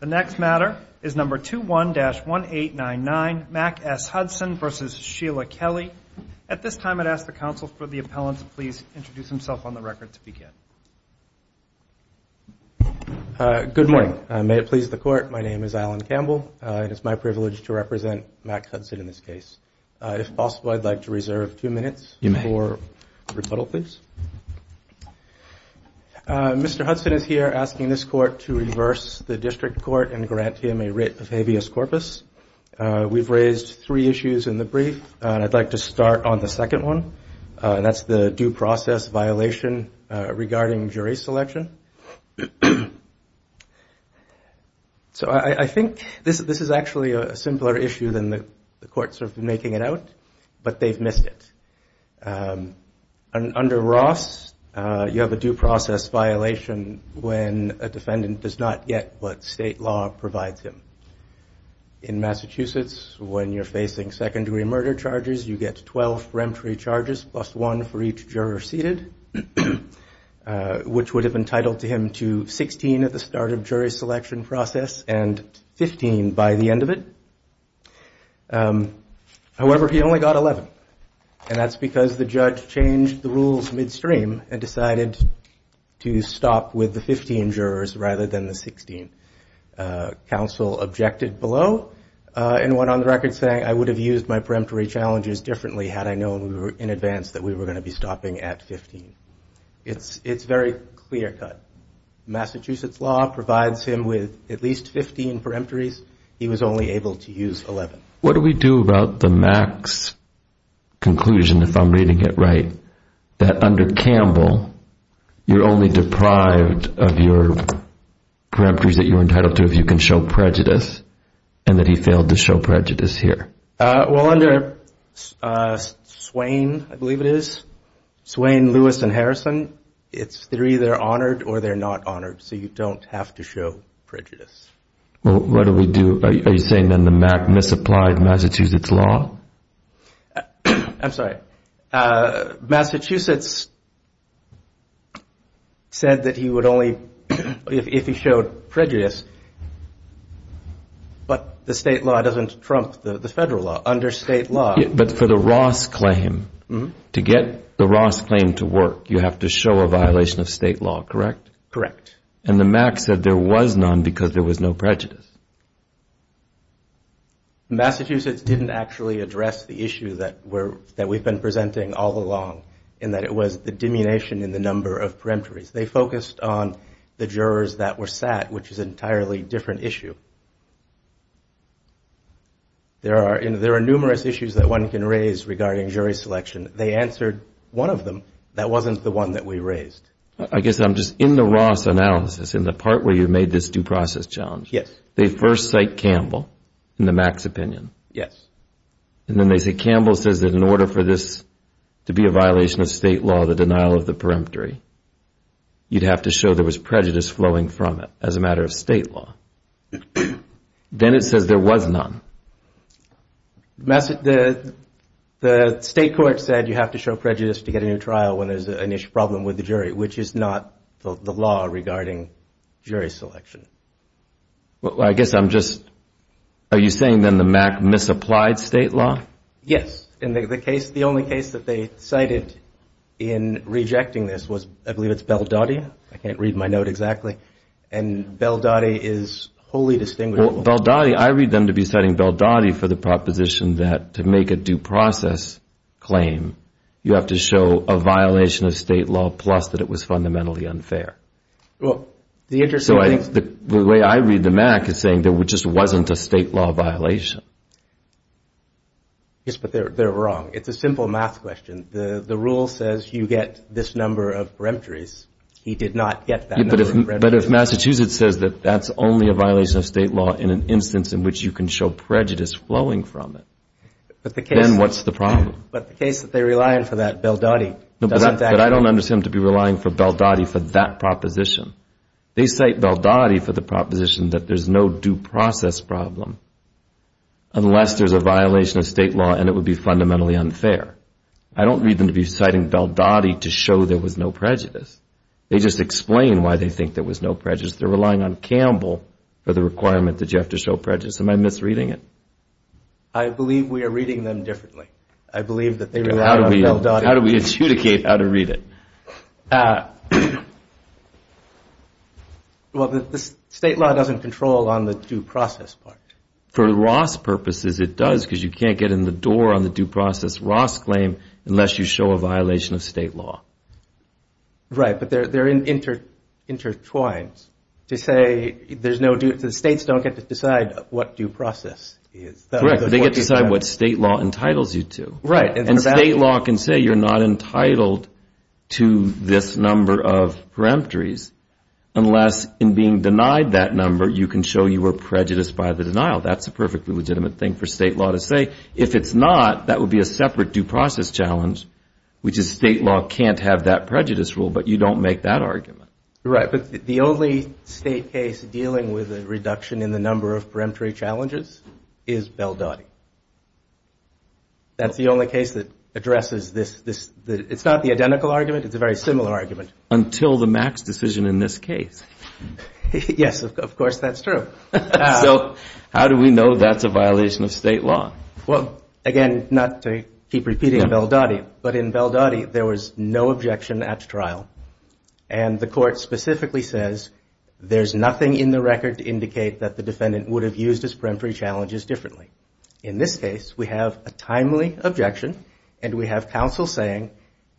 The next matter is number 21-1899, Mack S. Hudson v. Sheila Kelly. At this time, I'd ask the counsel for the appellant to please introduce himself on the record, if he can. Good morning. May it please the Court, my name is Alan Campbell and it's my privilege to represent Mack Hudson in this case. If possible, I'd like to reserve two minutes for rebuttal, please. Mr. Hudson is here asking this Court to reverse the district court and grant him a writ of habeas corpus. We've raised three issues in the brief, and I'd like to start on the second one, and that's the due process violation regarding jury selection. So I think this is actually a simpler issue than the courts have been making it out, but they've missed it. Under Ross, you have a due process violation when a defendant does not get what state law provides him. In Massachusetts, when you're facing second-degree murder charges, you get 12 remtree charges, plus one for each juror seated, which would have entitled him to 16 at the start of jury selection process and 15 by the end of it. However, he only got 11, and that's because the judge changed the rules midstream and decided to stop with the 15 jurors rather than the 16. Counsel objected below and went on the record saying, I would have used my peremptory challenges differently had I known in advance that we were going to be stopping at 15. It's very clear-cut. Massachusetts law provides him with at least 15 peremptories. He was only able to use 11. What do we do about the Mack's conclusion, if I'm reading it right, that under Campbell, you're only deprived of your peremptories that you're entitled to if you can show prejudice, and that he failed to show prejudice here? Well, under Swain, I believe it is, Swain, Lewis, and Harrison, it's either honored or they're not honored, so you don't have to show prejudice. What do we do? Are you saying then the Mack misapplied Massachusetts law? I'm sorry. Massachusetts said that he would only, if he showed prejudice, but the state law doesn't trump the federal law. Under state law. But for the Ross claim, to get the Ross claim to work, you have to show a violation of state law, correct? Correct. And the Mack said there was none because there was no prejudice. Massachusetts didn't actually address the issue that we've been presenting all along, in that it was the diminution in the number of peremptories. They focused on the jurors that were sat, which is an entirely different issue. There are numerous issues that one can raise regarding jury selection. They answered one of them. That wasn't the one that we raised. I guess I'm just in the Ross analysis, in the part where you made this due process challenge. Yes. They first cite Campbell in the Mack's opinion. Yes. And then they say Campbell says that in order for this to be a violation of state law, the denial of the peremptory, you'd have to show there was prejudice flowing from it as a matter of state law. Then it says there was none. The state court said you have to show prejudice to get a new trial when there's an issue, which is not the law regarding jury selection. Well, I guess I'm just, are you saying then the Mack misapplied state law? Yes. In the case, the only case that they cited in rejecting this was, I believe it's Baldotti. I can't read my note exactly. And Baldotti is wholly distinguished. Well, Baldotti, I read them to be citing Baldotti for the proposition that to make a due process claim, you have to show a violation of state law plus that it was fundamentally unfair. Well, the interesting thing is. The way I read the Mack is saying there just wasn't a state law violation. Yes, but they're wrong. It's a simple math question. The rule says you get this number of peremptories. He did not get that number of peremptories. But if Massachusetts says that that's only a violation of state law in an instance in which you can show prejudice flowing from it, then what's the problem? But the case that they rely on for that, Baldotti. But I don't understand to be relying for Baldotti for that proposition. They cite Baldotti for the proposition that there's no due process problem unless there's a violation of state law and it would be fundamentally unfair. I don't read them to be citing Baldotti to show there was no prejudice. They just explain why they think there was no prejudice. They're relying on Campbell for the requirement that you have to show prejudice. Am I misreading it? I believe we are reading them differently. I believe that they rely on Baldotti. How do we adjudicate how to read it? Well, the state law doesn't control on the due process part. For Ross purposes it does because you can't get in the door on the due process Ross claim unless you show a violation of state law. Right, but they're intertwined. To say there's no due – the states don't get to decide what due process is. Correct. They get to decide what state law entitles you to. Right. And state law can say you're not entitled to this number of peremptories unless in being denied that number you can show you were prejudiced by the denial. That's a perfectly legitimate thing for state law to say. If it's not, that would be a separate due process challenge, which is state law can't have that prejudice rule, but you don't make that argument. Right, but the only state case dealing with a reduction in the number of peremptory challenges is Baldotti. That's the only case that addresses this – it's not the identical argument, it's a very similar argument. Until the Max decision in this case. Yes, of course that's true. So how do we know that's a violation of state law? Well, again, not to keep repeating Baldotti, but in Baldotti there was no objection at trial. And the court specifically says there's nothing in the record to indicate that the defendant would have used his peremptory challenges differently. In this case, we have a timely objection and we have counsel saying,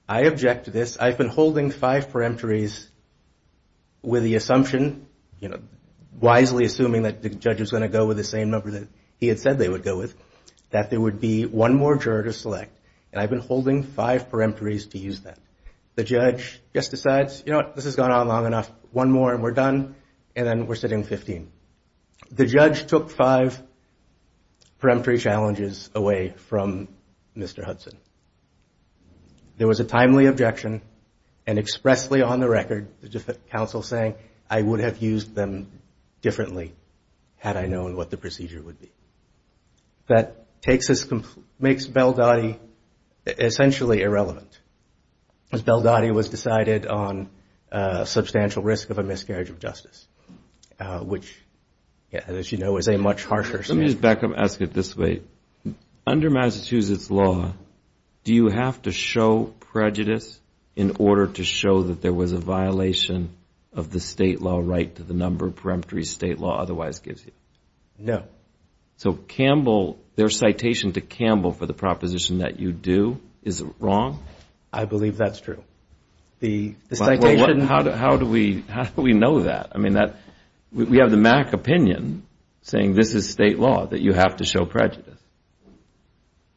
I object to this. I've been holding five peremptories with the assumption, you know, wisely assuming that the judge is going to go with the same number that he had said they would go with, that there would be one more juror to select. And I've been holding five peremptories to use that. The judge just decides, you know what, this has gone on long enough, one more and we're done, and then we're sitting 15. The judge took five peremptory challenges away from Mr. Hudson. There was a timely objection and expressly on the record the counsel saying, I would have used them differently had I known what the procedure would be. That makes Baldotti essentially irrelevant. As Baldotti was decided on substantial risk of a miscarriage of justice, which, as you know, is a much harsher statute. Let me just back up and ask it this way. Under Massachusetts law, do you have to show prejudice in order to show that there was a violation of the state law right to the number of peremptory state law otherwise gives you? No. So Campbell, their citation to Campbell for the proposition that you do is wrong? I believe that's true. How do we know that? We have the Mac opinion saying this is state law, that you have to show prejudice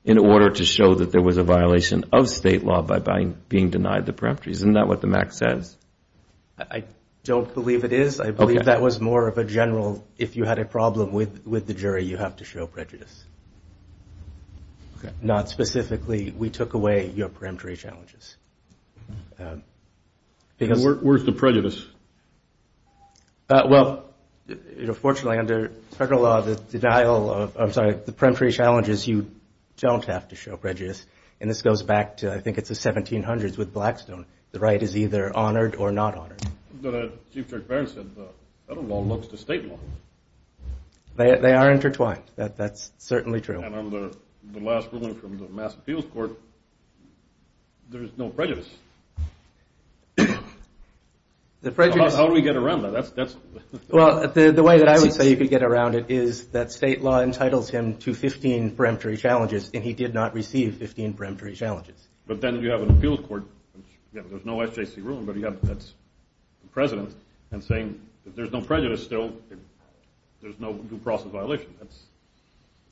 in order to show that there was a violation of state law by being denied the peremptories. Isn't that what the Mac says? I don't believe it is. I believe that was more of a general, if you had a problem with the jury, you have to show prejudice. Not specifically, we took away your peremptory challenges. Where's the prejudice? Well, unfortunately, under federal law, the denial of, I'm sorry, the peremptory challenges, you don't have to show prejudice. And this goes back to, I think it's the 1700s with Blackstone. The right is either honored or not honored. But as Chief Judge Barron said, federal law looks to state law. They are intertwined. That's certainly true. And on the last ruling from the Mass Appeals Court, there's no prejudice. How do we get around that? Well, the way that I would say you could get around it is that state law entitles him to 15 peremptory challenges, and he did not receive 15 peremptory challenges. But then you have an appeals court, there's no SJC ruling, but you have the president saying there's no prejudice still, there's no due process violation.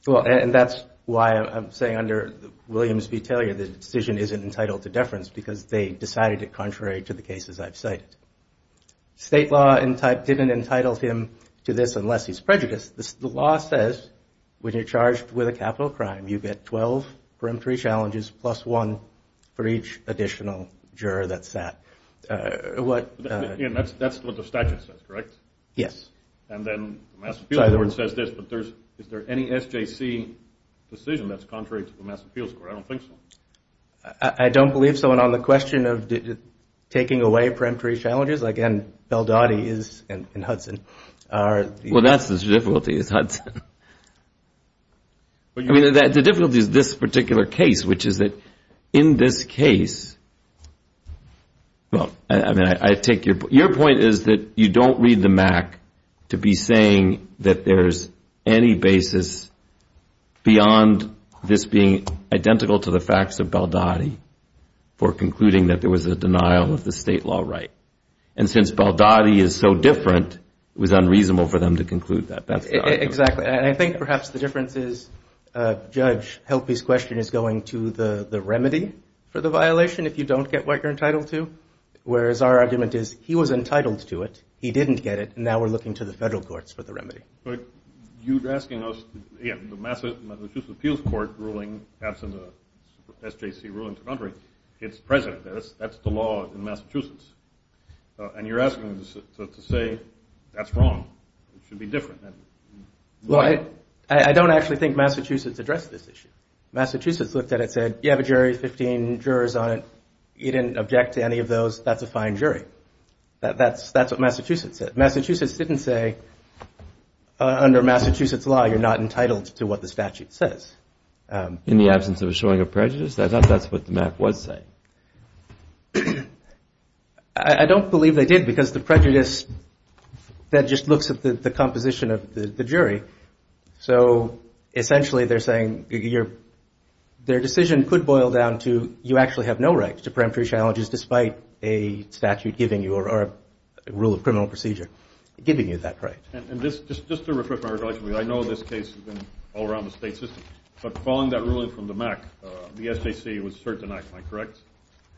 Well, and that's why I'm saying under Williams v. Taylor, the decision isn't entitled to deference, because they decided it contrary to the cases I've cited. State law didn't entitle him to this unless he's prejudiced. The law says when you're charged with a capital crime, you get 12 peremptory challenges plus one for each additional juror that's sat. That's what the statute says, correct? Yes. And then the Mass Appeals Court says this, but is there any SJC decision that's contrary to the Mass Appeals Court? I don't think so. I don't believe so. And on the question of taking away peremptory challenges, again, Baldotti is in Hudson. Well, that's the difficulty is Hudson. I mean, the difficulty is this particular case, which is that in this case, well, I mean, I take your point. My point is that you don't read the MAC to be saying that there's any basis beyond this being identical to the facts of Baldotti for concluding that there was a denial of the state law right. And since Baldotti is so different, it was unreasonable for them to conclude that. Exactly. And I think perhaps the difference is Judge Helpy's question is going to the remedy for the violation if you don't get what you're entitled to, whereas our argument is he was entitled to it, he didn't get it, and now we're looking to the federal courts for the remedy. But you're asking us, again, the Massachusetts Appeals Court ruling absent a SJC ruling to contrary, it's present. That's the law in Massachusetts. And you're asking us to say that's wrong. It should be different. Well, I don't actually think Massachusetts addressed this issue. Massachusetts looked at it and said, you have a jury, 15 jurors on it. You didn't object to any of those, that's a fine jury. That's what Massachusetts said. Massachusetts didn't say under Massachusetts law you're not entitled to what the statute says. In the absence of a showing of prejudice? I thought that's what the MAC was saying. I don't believe they did because the prejudice, that just looks at the composition of the jury. So essentially they're saying their decision could boil down to you actually have no right to preemptory challenges despite a statute giving you or a rule of criminal procedure giving you that right. And just to refresh my recollection, I know this case has been all around the state system, but following that ruling from the MAC, the SJC was certainly denied, am I correct?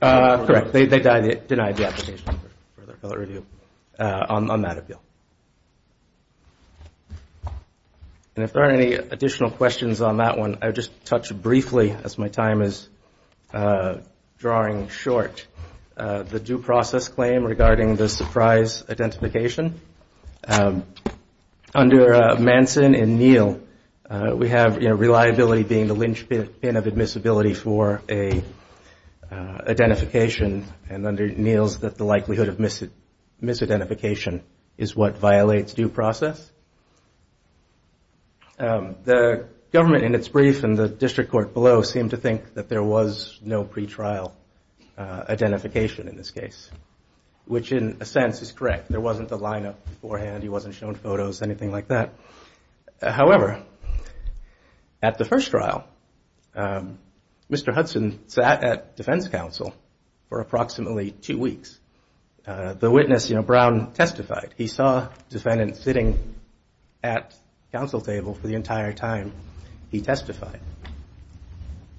Correct. They denied the application for further review on that appeal. And if there aren't any additional questions on that one, I would just touch briefly as my time is drawing short, the due process claim regarding the surprise identification. Under Manson and Neal, we have reliability being the linchpin of admissibility for an identification, and under Neal's the likelihood of misidentification is what violates due process. The government in its brief and the district court below seemed to think that there was no pretrial identification in this case, which in a sense is correct, there wasn't a lineup beforehand, he wasn't shown photos, anything like that. However, at the first trial, Mr. Hudson sat at defense counsel for approximately two weeks. The witness, you know, Brown testified. He saw defendants sitting at counsel table for the entire time he testified.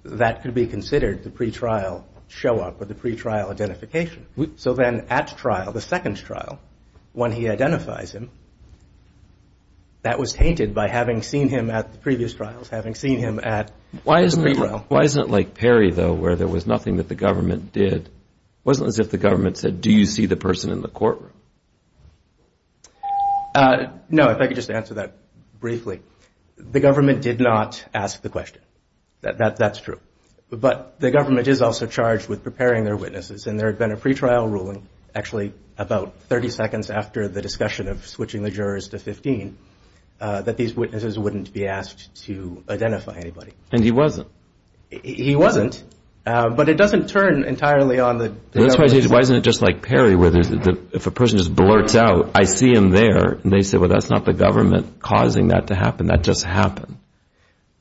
That could be considered the pretrial show-up or the pretrial identification. So then at trial, the second trial, when he identifies him, that was tainted by having seen him at the previous trials, having seen him at the pretrial. Why isn't it like Perry, though, where there was nothing that the government did? It wasn't as if the government said, do you see the person in the courtroom? No, if I could just answer that briefly. The government did not ask the question. That's true. But the government is also charged with preparing their witnesses, and there had been a pretrial ruling actually about 30 seconds after the discussion of switching the jurors to 15 that these witnesses wouldn't be asked to identify anybody. And he wasn't? He wasn't, but it doesn't turn entirely on the government. Why isn't it just like Perry, where if a person just blurts out, I see him there, and they say, well, that's not the government causing that to happen, that just happened?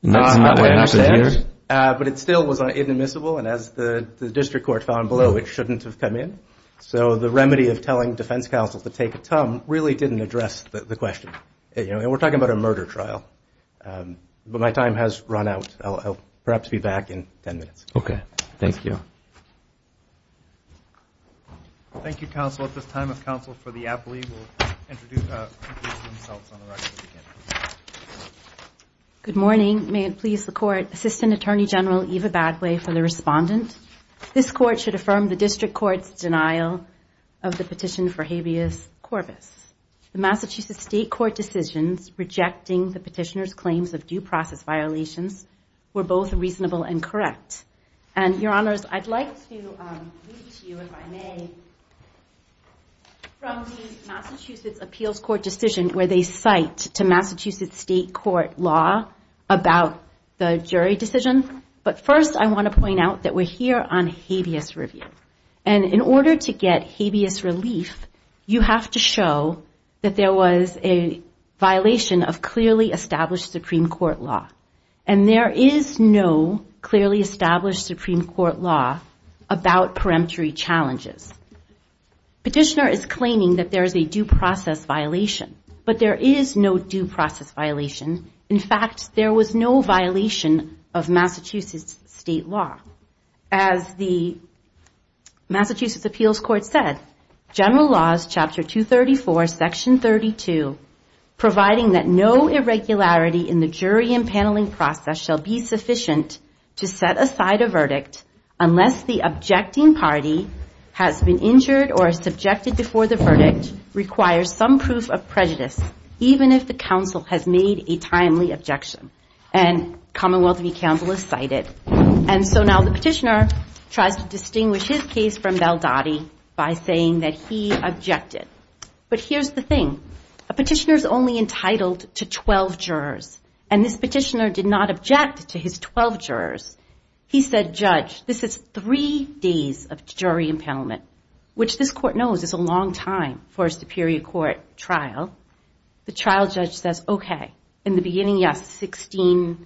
But it still was inadmissible, and as the district court found below, it shouldn't have come in. So the remedy of telling defense counsel to take a tum really didn't address the question. And we're talking about a murder trial. But my time has run out. I'll perhaps be back in 10 minutes. Okay. Thank you. Good morning. May it please the Court. Assistant Attorney General Eva Badgley for the Respondent. Thank you, Your Honor. I'd like to start with the denial of the petition for habeas corpus. The Massachusetts State Court decisions rejecting the petitioner's claims of due process violations were both reasonable and correct. And, Your Honors, I'd like to read to you, if I may, from the Massachusetts Appeals Court decision where they cite to Massachusetts State Court law about the jury decision. But first, I want to point out that we're here on habeas review. And in order to get habeas relief, you have to show that there was a violation of clearly established Supreme Court law. And there is no clearly established Supreme Court law about peremptory challenges. Petitioner is claiming that there is a due process violation. But there is no due process violation. In fact, there was no violation of Massachusetts State law. As the Massachusetts Appeals Court said, general laws chapter 234, section 32, providing that no irregularity in the jury and paneling process shall be sufficient to set aside a verdict unless the objecting party has been injured or subjected before the verdict requires some proof of prejudice, even if the counsel has made a timely objection. And Commonwealth v. Campbell is cited. And so now the petitioner tries to distinguish his case from Valdotti by saying that he objected. But here's the thing. A petitioner is only entitled to 12 jurors. And this petitioner did not object to his 12 jurors. He said, Judge, this is three days of jury impoundment, which this court knows is a long time for a superior court trial. The trial judge says, okay, in the beginning, yes, 16 days.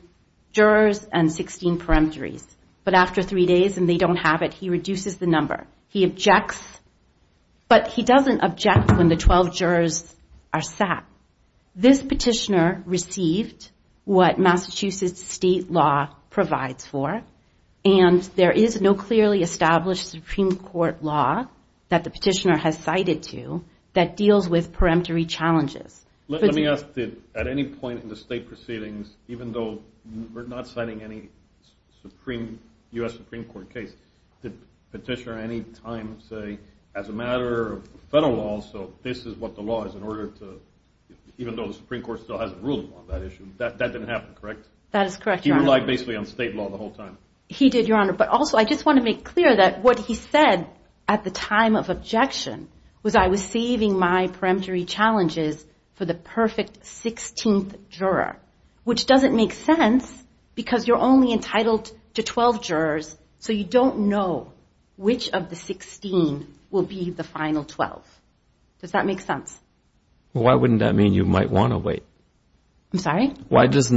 But after three days and they don't have it, he reduces the number. He objects. But he doesn't object when the 12 jurors are sat. This petitioner received what Massachusetts State law provides for. And there is no clearly established Supreme Court law that the petitioner has cited to that deals with peremptory challenges. Let me ask, at any point in the state proceedings, even though we're not citing any U.S. Supreme Court case, did the petitioner at any time say, as a matter of federal law, so this is what the law is in order to, even though the Supreme Court still hasn't ruled on that issue, that didn't happen, correct? That is correct, Your Honor. He relied basically on state law the whole time. He did, Your Honor. But also I just want to make clear that what he said at the time of objection was I was saving my peremptory challenges for the perfect 16th juror, which doesn't make sense because you're only entitled to 12 jurors, so you don't know which of the 16 will be the final 12. Does that make sense? Well, why wouldn't that mean you might want to wait? So what his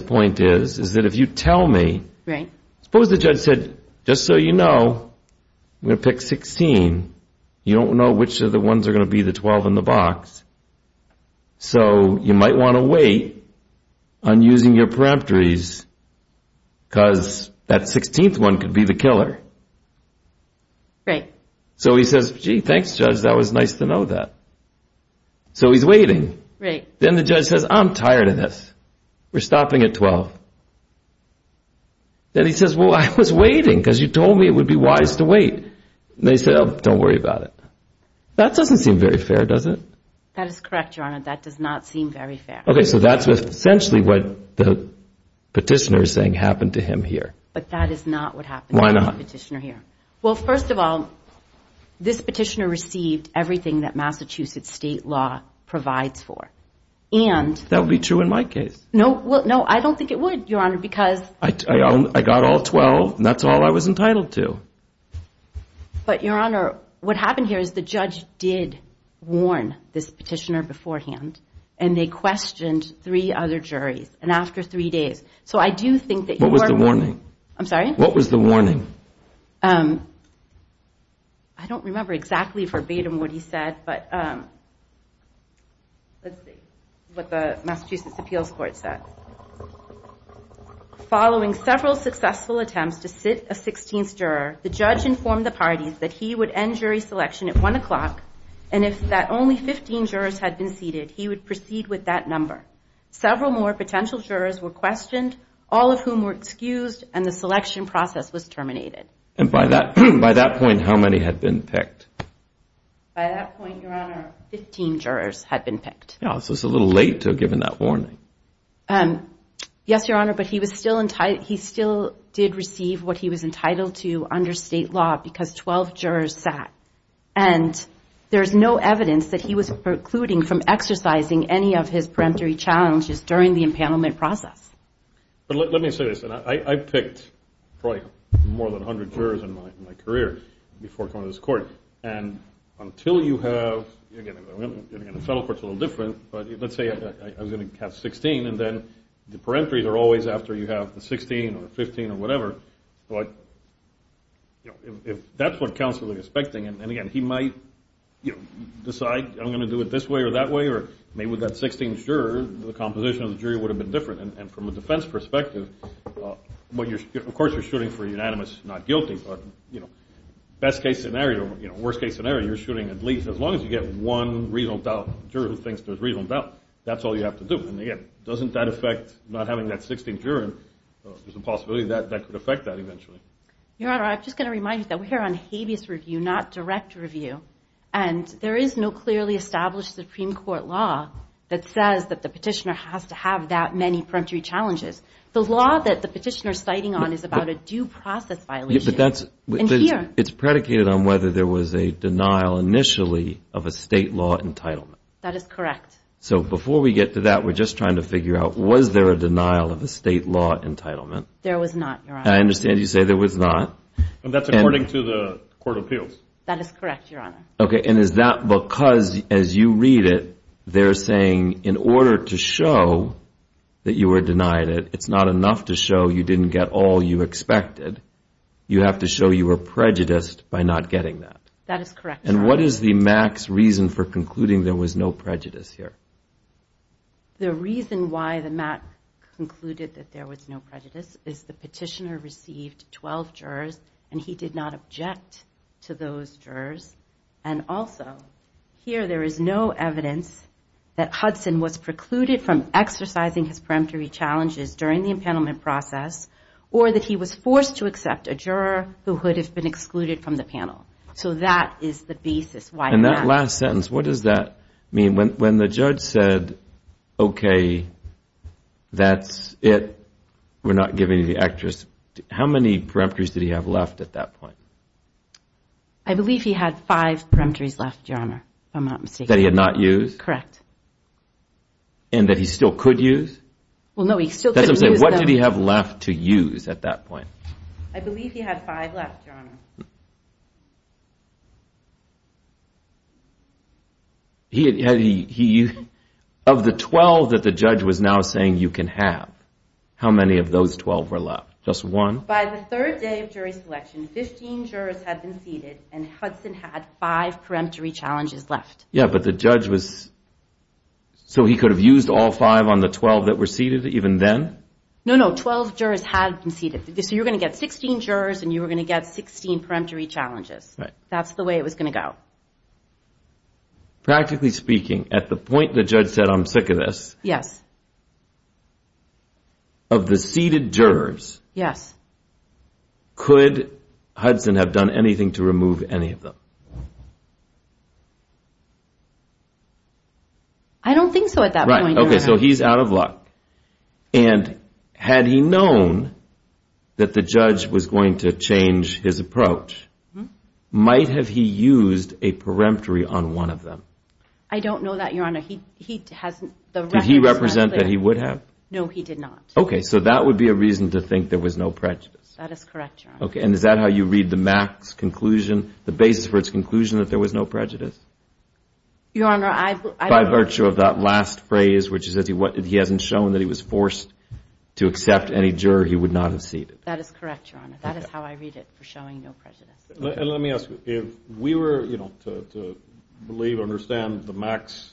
point is, is that if you tell me, suppose the judge said, just so you know, I'm going to pick 16, you don't know which of the ones are going to be the 12 in the box, so you might want to wait on using your peremptories because that 16th one could be the killer. Right. So he says, gee, thanks, Judge, that was nice to know that. So he's waiting. Then the judge says, I'm tired of this. We're stopping at 12. Then he says, well, I was waiting because you told me it would be wise to wait. They said, oh, don't worry about it. That doesn't seem very fair, does it? That is correct, Your Honor. That does not seem very fair. Okay, so that's essentially what the petitioner is saying happened to him here. But that is not what happened to the petitioner here. Well, first of all, this petitioner received everything that Massachusetts state law provides for. That would be true in my case. No, I don't think it would, Your Honor, because I got all 12, and that's all I was entitled to. But, Your Honor, what happened here is the judge did warn this petitioner beforehand, and they questioned three other juries, and after three days. What was the warning? I don't remember exactly verbatim what he said, but let's see what the Massachusetts appeals court said. Following several successful attempts to sit a 16th juror, the judge informed the parties that he would end jury selection at 1 o'clock, and if only 15 jurors had been seated, he would proceed with that number. Several more potential jurors were questioned, all of whom were excused, and the selection process was terminated. And by that point, how many had been picked? By that point, Your Honor, 15 jurors had been picked. Yeah, so it's a little late to have given that warning. Yes, Your Honor, but he still did receive what he was entitled to under state law, because 12 jurors sat. And there's no evidence that he was precluding from exercising any of his peremptory challenges during the impoundment process. But let me say this. I picked probably more than 100 jurors in my career before coming to this court, and until you have, again, the federal court's a little different, but let's say I was going to have 16, and then the peremptories are always after you have the 16 or 15 or whatever. If that's what counsel is expecting, and again, he might decide, I'm going to do it this way or that way, or maybe with that 16th juror, the composition of the jury would have been different. And from a defense perspective, of course you're shooting for unanimous, not guilty, but best case scenario, worst case scenario, you're shooting at least as long as you get one reasonable doubt. That's all you have to do. And again, doesn't that affect not having that 16th juror? There's a possibility that that could affect that eventually. Your Honor, I'm just going to remind you that we're here on habeas review, not direct review. And there is no clearly established Supreme Court law that says that the petitioner has to have that many peremptory challenges. The law that the petitioner is citing on is about a due process violation. It's predicated on whether there was a denial initially of a state law entitlement. That is correct. So before we get to that, we're just trying to figure out, was there a denial of a state law entitlement? There was not, Your Honor. I understand you say there was not. That is correct, Your Honor. And is that because as you read it, they're saying in order to show that you were denied it, it's not enough to show you didn't get all you expected. You have to show you were prejudiced by not getting that. That is correct, Your Honor. The reason why the MAC concluded that there was no prejudice is the petitioner received 12 jurors and he did not object to those jurors. And also, here there is no evidence that Hudson was precluded from exercising his peremptory challenges during the impanelment process or that he was forced to accept a juror who would have been excluded from the panel. So that is the basis. And that last sentence, what does that mean? When the judge said, okay, that's it, we're not giving you the actress, how many peremptories did he have left at that point? I believe he had five peremptories left, Your Honor, if I'm not mistaken. That he had not used? That he still could use? What did he have left to use at that point? I believe he had five left, Your Honor. Of the 12 that the judge was now saying you can have, how many of those 12 were left? Just one? By the third day of jury selection, 15 jurors had been seated and Hudson had five peremptory challenges left. Yeah, but the judge was, so he could have used all five on the 12 that were seated even then? No, no, 12 jurors had been seated. So you were going to get 16 jurors and you were going to get 16 peremptory challenges. Practically speaking, at the point the judge said, I'm sick of this, of the seated jurors, could Hudson have done anything to remove any of them? I don't think so at that point, Your Honor. Right, okay, so he's out of luck. And had he known that the judge was going to change his approach, might have he used a peremptory on one of them? I don't know that, Your Honor. Did he represent that he would have? No, he did not. Okay, so that would be a reason to think there was no prejudice. That is correct, Your Honor. Okay, and is that how you read the Mac's conclusion, the basis for its conclusion that there was no prejudice? Your Honor, I don't know. By virtue of that last phrase, which is that he hasn't shown that he was forced to accept any juror, he would not have seated. That is correct, Your Honor. That is how I read it, for showing no prejudice. And let me ask you, if we were to believe or understand the Mac's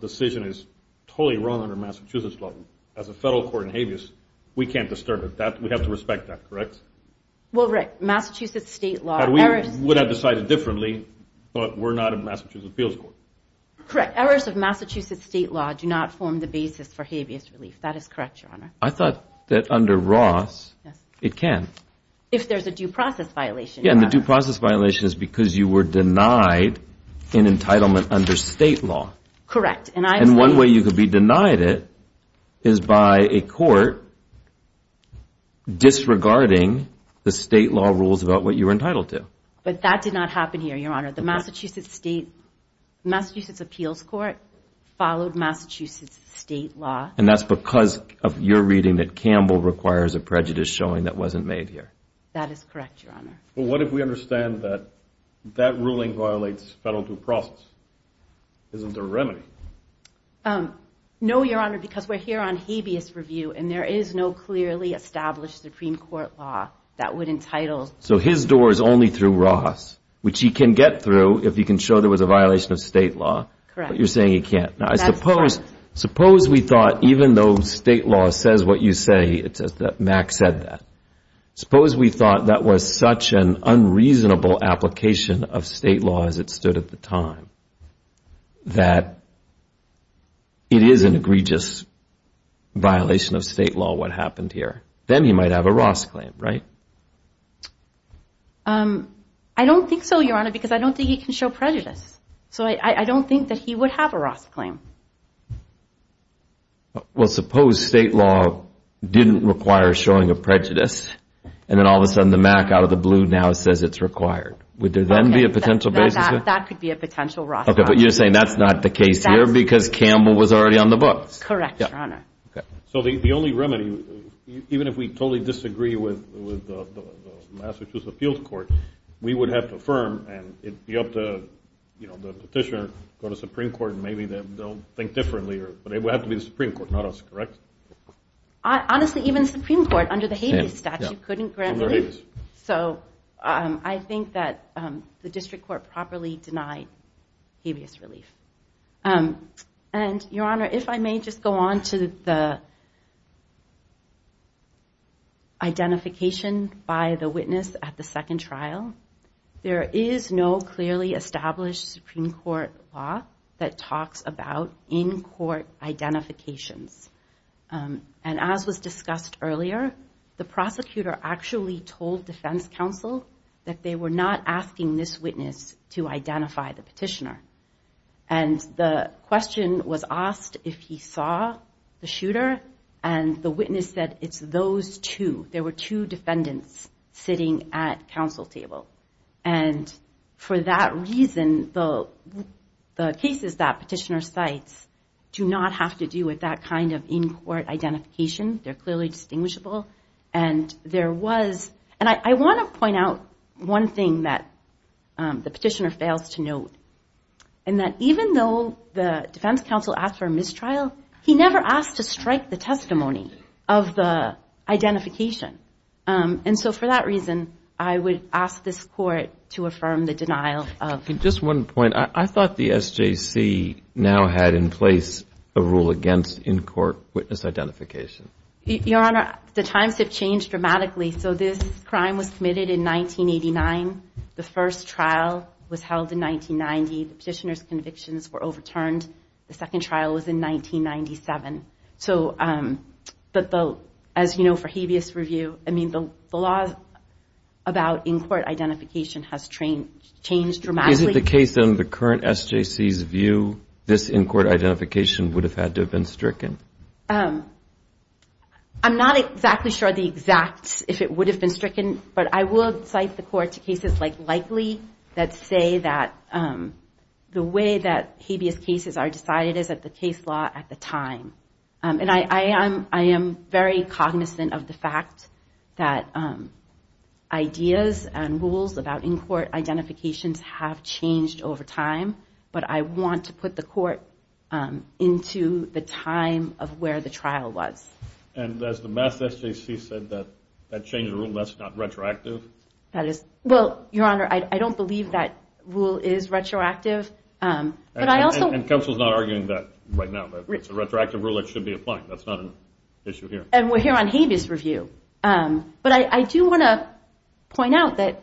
decision is totally wrong under Massachusetts law, as a federal court in habeas, we can't disturb it. We have to respect that, correct? Well, Rick, Massachusetts state law. We would have decided differently, but we're not a Massachusetts appeals court. Correct. Errors of Massachusetts state law do not form the basis for habeas relief. That is correct, Your Honor. I thought that under Ross, it can. If there's a due process violation. Yeah, and the due process violation is because you were denied an entitlement under state law. Correct. And one way you could be denied it is by a court disregarding the state law rules about what you were entitled to. But that did not happen here, Your Honor. The Massachusetts appeals court followed Massachusetts state law. And that's because of your reading that Campbell requires a prejudice showing that wasn't made here. That is correct, Your Honor. Well, what if we understand that that ruling violates federal due process? Isn't there a remedy? No, Your Honor, because we're here on habeas review, and there is no clearly established Supreme Court law that would entitle... So his door is only through Ross, which he can get through if he can show there was a violation of state law. Correct. But you're saying he can't. Now, suppose we thought even though state law says what you say, it says that Mack said that. Suppose we thought that was such an unreasonable application of state law as it stood at the time that it is an egregious violation of state law what happened here. Then he might have a Ross claim, right? I don't think so, Your Honor, because I don't think he can show prejudice. So I don't think that he would have a Ross claim. Well, suppose state law didn't require showing a prejudice. And then all of a sudden the Mack out of the blue now says it's required. Would there then be a potential basis? That could be a potential Ross claim. Correct, Your Honor. Even if we totally disagree with the Massachusetts Appeals Court, we would have to affirm and it would be up to the petitioner to go to the Supreme Court and maybe they'll think differently. But it would have to be the Supreme Court, not us, correct? Honestly, even the Supreme Court under the habeas statute couldn't grant relief. So I think that the district court properly denied habeas relief. And, Your Honor, if I may just go on to the identification by the witness at the second trial. There is no clearly established Supreme Court law that talks about in-court identifications. And as was discussed earlier, the prosecutor actually told defense counsel that they were not asking this witness to identify the petitioner. And the question was asked if he saw the shooter and the witness said it's those two. There were two defendants sitting at counsel table. And for that reason, the cases that petitioner cites do not have to do with that kind of in-court identification. They're clearly distinguishable. And I want to point out one thing that the petitioner fails to note. And that even though the defense counsel asked for a mistrial, he never asked to strike the testimony of the witness in this court to affirm the denial of. Just one point. I thought the SJC now had in place a rule against in-court witness identification. Your Honor, the times have changed dramatically. So this crime was committed in 1989. The first trial was held in 1990. The petitioner's convictions were overturned. The second trial was in 1997. But as you know for habeas review, the law about in-court identification has changed dramatically. Is it the case in the current SJC's view this in-court identification would have had to have been stricken? I'm not exactly sure the exact, if it would have been stricken. But I would cite the court to cases like Likely that say that the way that habeas cases are decided is at the case law at the time. And I am very cognizant of the fact that ideas and rules about in-court identifications have changed over time. But I want to put the court into the time of where the trial was. And as the mass SJC said that that changed the rule, that's not retroactive? Well, Your Honor, I don't believe that rule is retroactive. And counsel is not arguing that right now. The retroactive rule should be applied. And we're here on habeas review. But I do want to point out that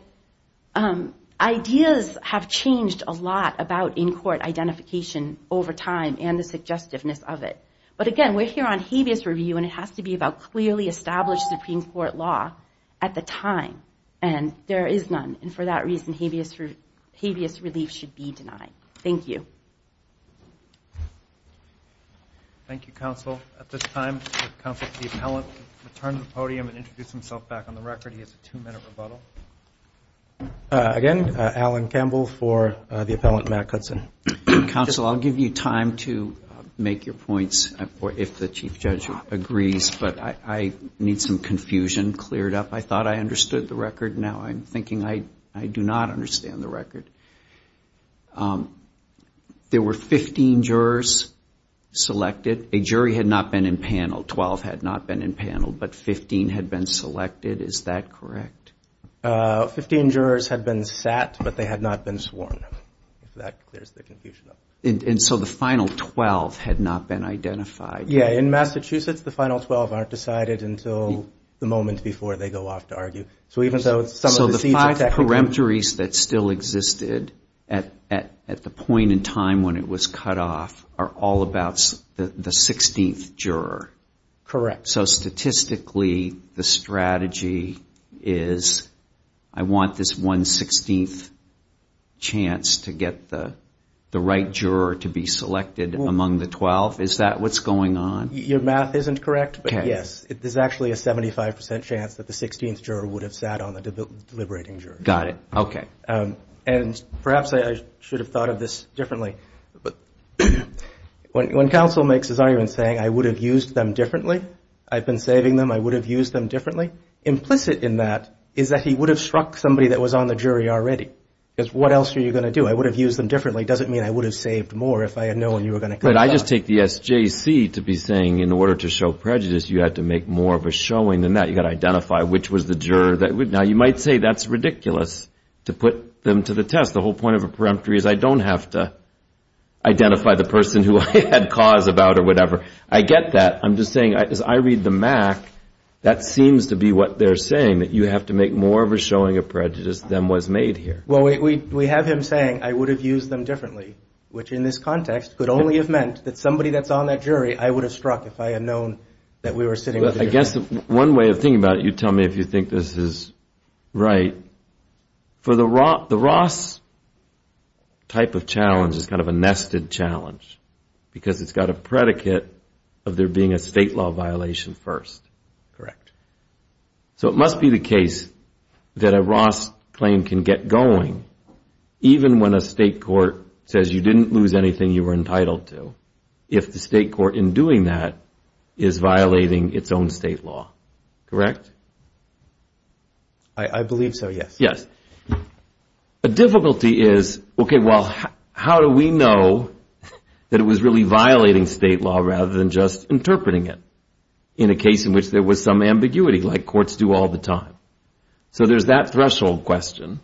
ideas have changed a lot about in-court identification over time and the suggestiveness of it. But again, we're here on habeas review and it has to be about clearly established Supreme Court law at the time. And there is none. And for that reason, habeas relief should be denied. Thank you. Thank you, counsel. At this time, counsel for the appellant will return to the podium and introduce himself back on the record. He has a two-minute rebuttal. Counsel, I'll give you time to make your points if the Chief Judge agrees. But I need some confusion cleared up. I thought I understood the record. Now I'm thinking I do not understand the record. There were 15 jurors selected. A jury had not been impaneled. Twelve had not been impaneled, but 15 had been selected. Is that correct? Fifteen jurors had been sat, but they had not been sworn. If that clears the confusion up. And so the final 12 had not been identified. Yeah, in Massachusetts, the final 12 aren't decided until the moment before they go off to argue. So the five peremptories that still existed at the point in time when it was cut off are all about the 16th juror. Correct. So statistically, the strategy is I want this one 16th chance to get the right juror to be selected among the 12. Is that what's going on? Your math isn't correct, but yes, there's actually a 75% chance that the 16th juror would have sat on the deliberating jury. Got it. Okay. And perhaps I should have thought of this differently. When counsel makes his argument saying I would have used them differently, I've been saving them, I would have used them differently. Implicit in that is that he would have struck somebody that was on the jury already. Because what else are you going to do? I would have used them differently. Doesn't mean I would have saved more if I had known you were going to cut them off. But I just take the SJC to be saying in order to show prejudice, you have to make more of a showing than that. You got to identify which was the juror that would. Now, you might say that's ridiculous to put them to the test. The whole point of a peremptory is I don't have to identify the person who had cause about or whatever. I get that. I'm just saying I read the Mac. That seems to be what they're saying, that you have to make more of a showing of prejudice than was made here. Well, we have him saying I would have used them differently, which in this context could only have meant that somebody that's on that jury, I would have struck if I had known that we were sitting. I guess one way of thinking about it, you tell me if you think this is right for the rock. The Ross type of challenge is kind of a nested challenge because it's got a predicate of there being a state law violation first. Correct. So it must be the case that a Ross claim can get going even when a state court says you didn't lose anything you were entitled to. If the state court in doing that is violating its own state law. Correct. I believe so. Yes. Yes. A difficulty is OK. Well, how do we know that it was really violating state law rather than just interpreting it in a case in which there was no state law? In which there was some ambiguity like courts do all the time. So there's that threshold question.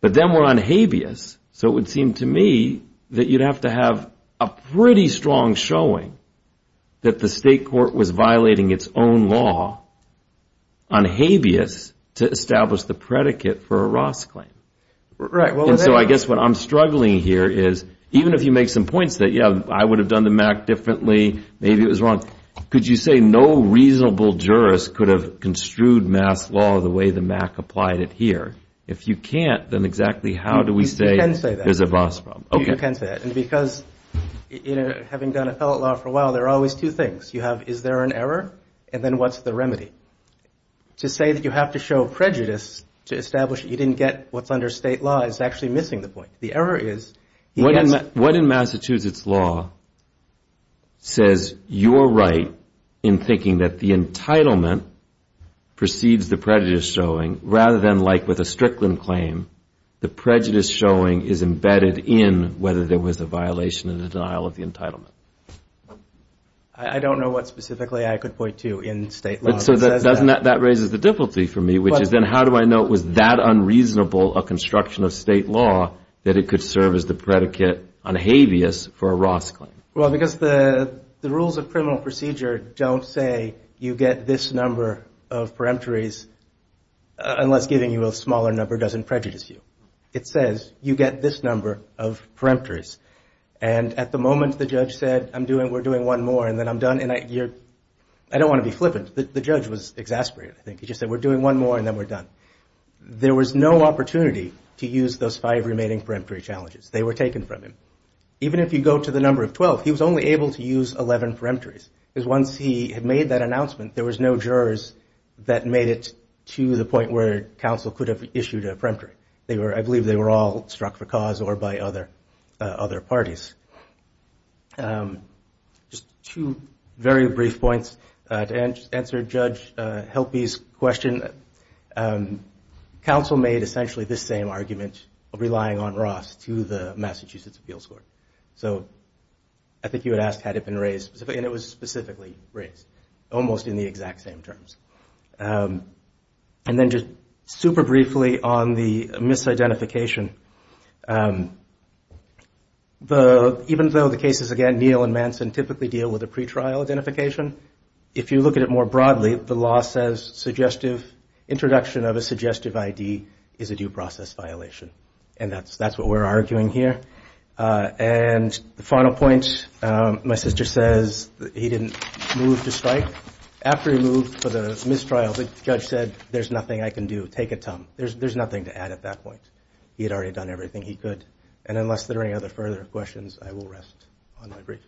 But then we're on habeas. So it would seem to me that you'd have to have a pretty strong showing that the state court was violating its own law on habeas to establish the predicate for a Ross claim. Right. Well, I guess what I'm struggling here is even if you make some points that, yeah, I would have done the Mac differently, maybe it was wrong. Could you say no reasonable jurist could have construed mass law the way the Mac applied it here? If you can't, then exactly how do we say there's a Ross problem? You can say that. And because, you know, having done appellate law for a while, there are always two things you have. Is there an error? And then what's the remedy? To say that you have to show prejudice to establish you didn't get what's under state law is actually missing the point. The error is what in Massachusetts law says you're right in thinking that the entitlement precedes the prejudice showing rather than like with a Strickland claim. The prejudice showing is embedded in whether there was a violation of the denial of the entitlement. I don't know what specifically I could point to in state. So that doesn't that raises the difficulty for me, which is then how do I know it was that unreasonable a construction of state law that it could serve as the predicate on habeas for a Ross claim? Well, because the rules of criminal procedure don't say you get this number of peremptories unless giving you a smaller number doesn't prejudice you. It says you get this number of peremptories. And at the moment, the judge said, I'm doing we're doing one more and then I'm done. And I don't want to be flippant. The judge was exasperated. I think he just said we're doing one more and then we're done. There was no opportunity to use those five remaining peremptory challenges. They were taken from him. Even if you go to the number of 12, he was only able to use 11 peremptories. Because once he had made that announcement, there was no jurors that made it to the point where counsel could have issued a peremptory. They were I believe they were all struck for cause or by other other parties. Just two very brief points to answer. Judge help his question. Counsel made essentially the same argument of relying on Ross to the Massachusetts Appeals Court. So I think you would ask, had it been raised and it was specifically raised almost in the exact same terms. And then just super briefly on the misidentification. The even though the cases again, Neal and Manson typically deal with a pretrial identification. If you look at it more broadly, the law says suggestive introduction of a suggestive ID is a due process violation. And that's that's what we're arguing here. And the final point, my sister says he didn't move to strike after he moved for the mistrials. The judge said, there's nothing I can do. Take it, Tom. There's nothing to add at that point. He had already done everything he could. And unless there are any other further questions, I will rest on my brief.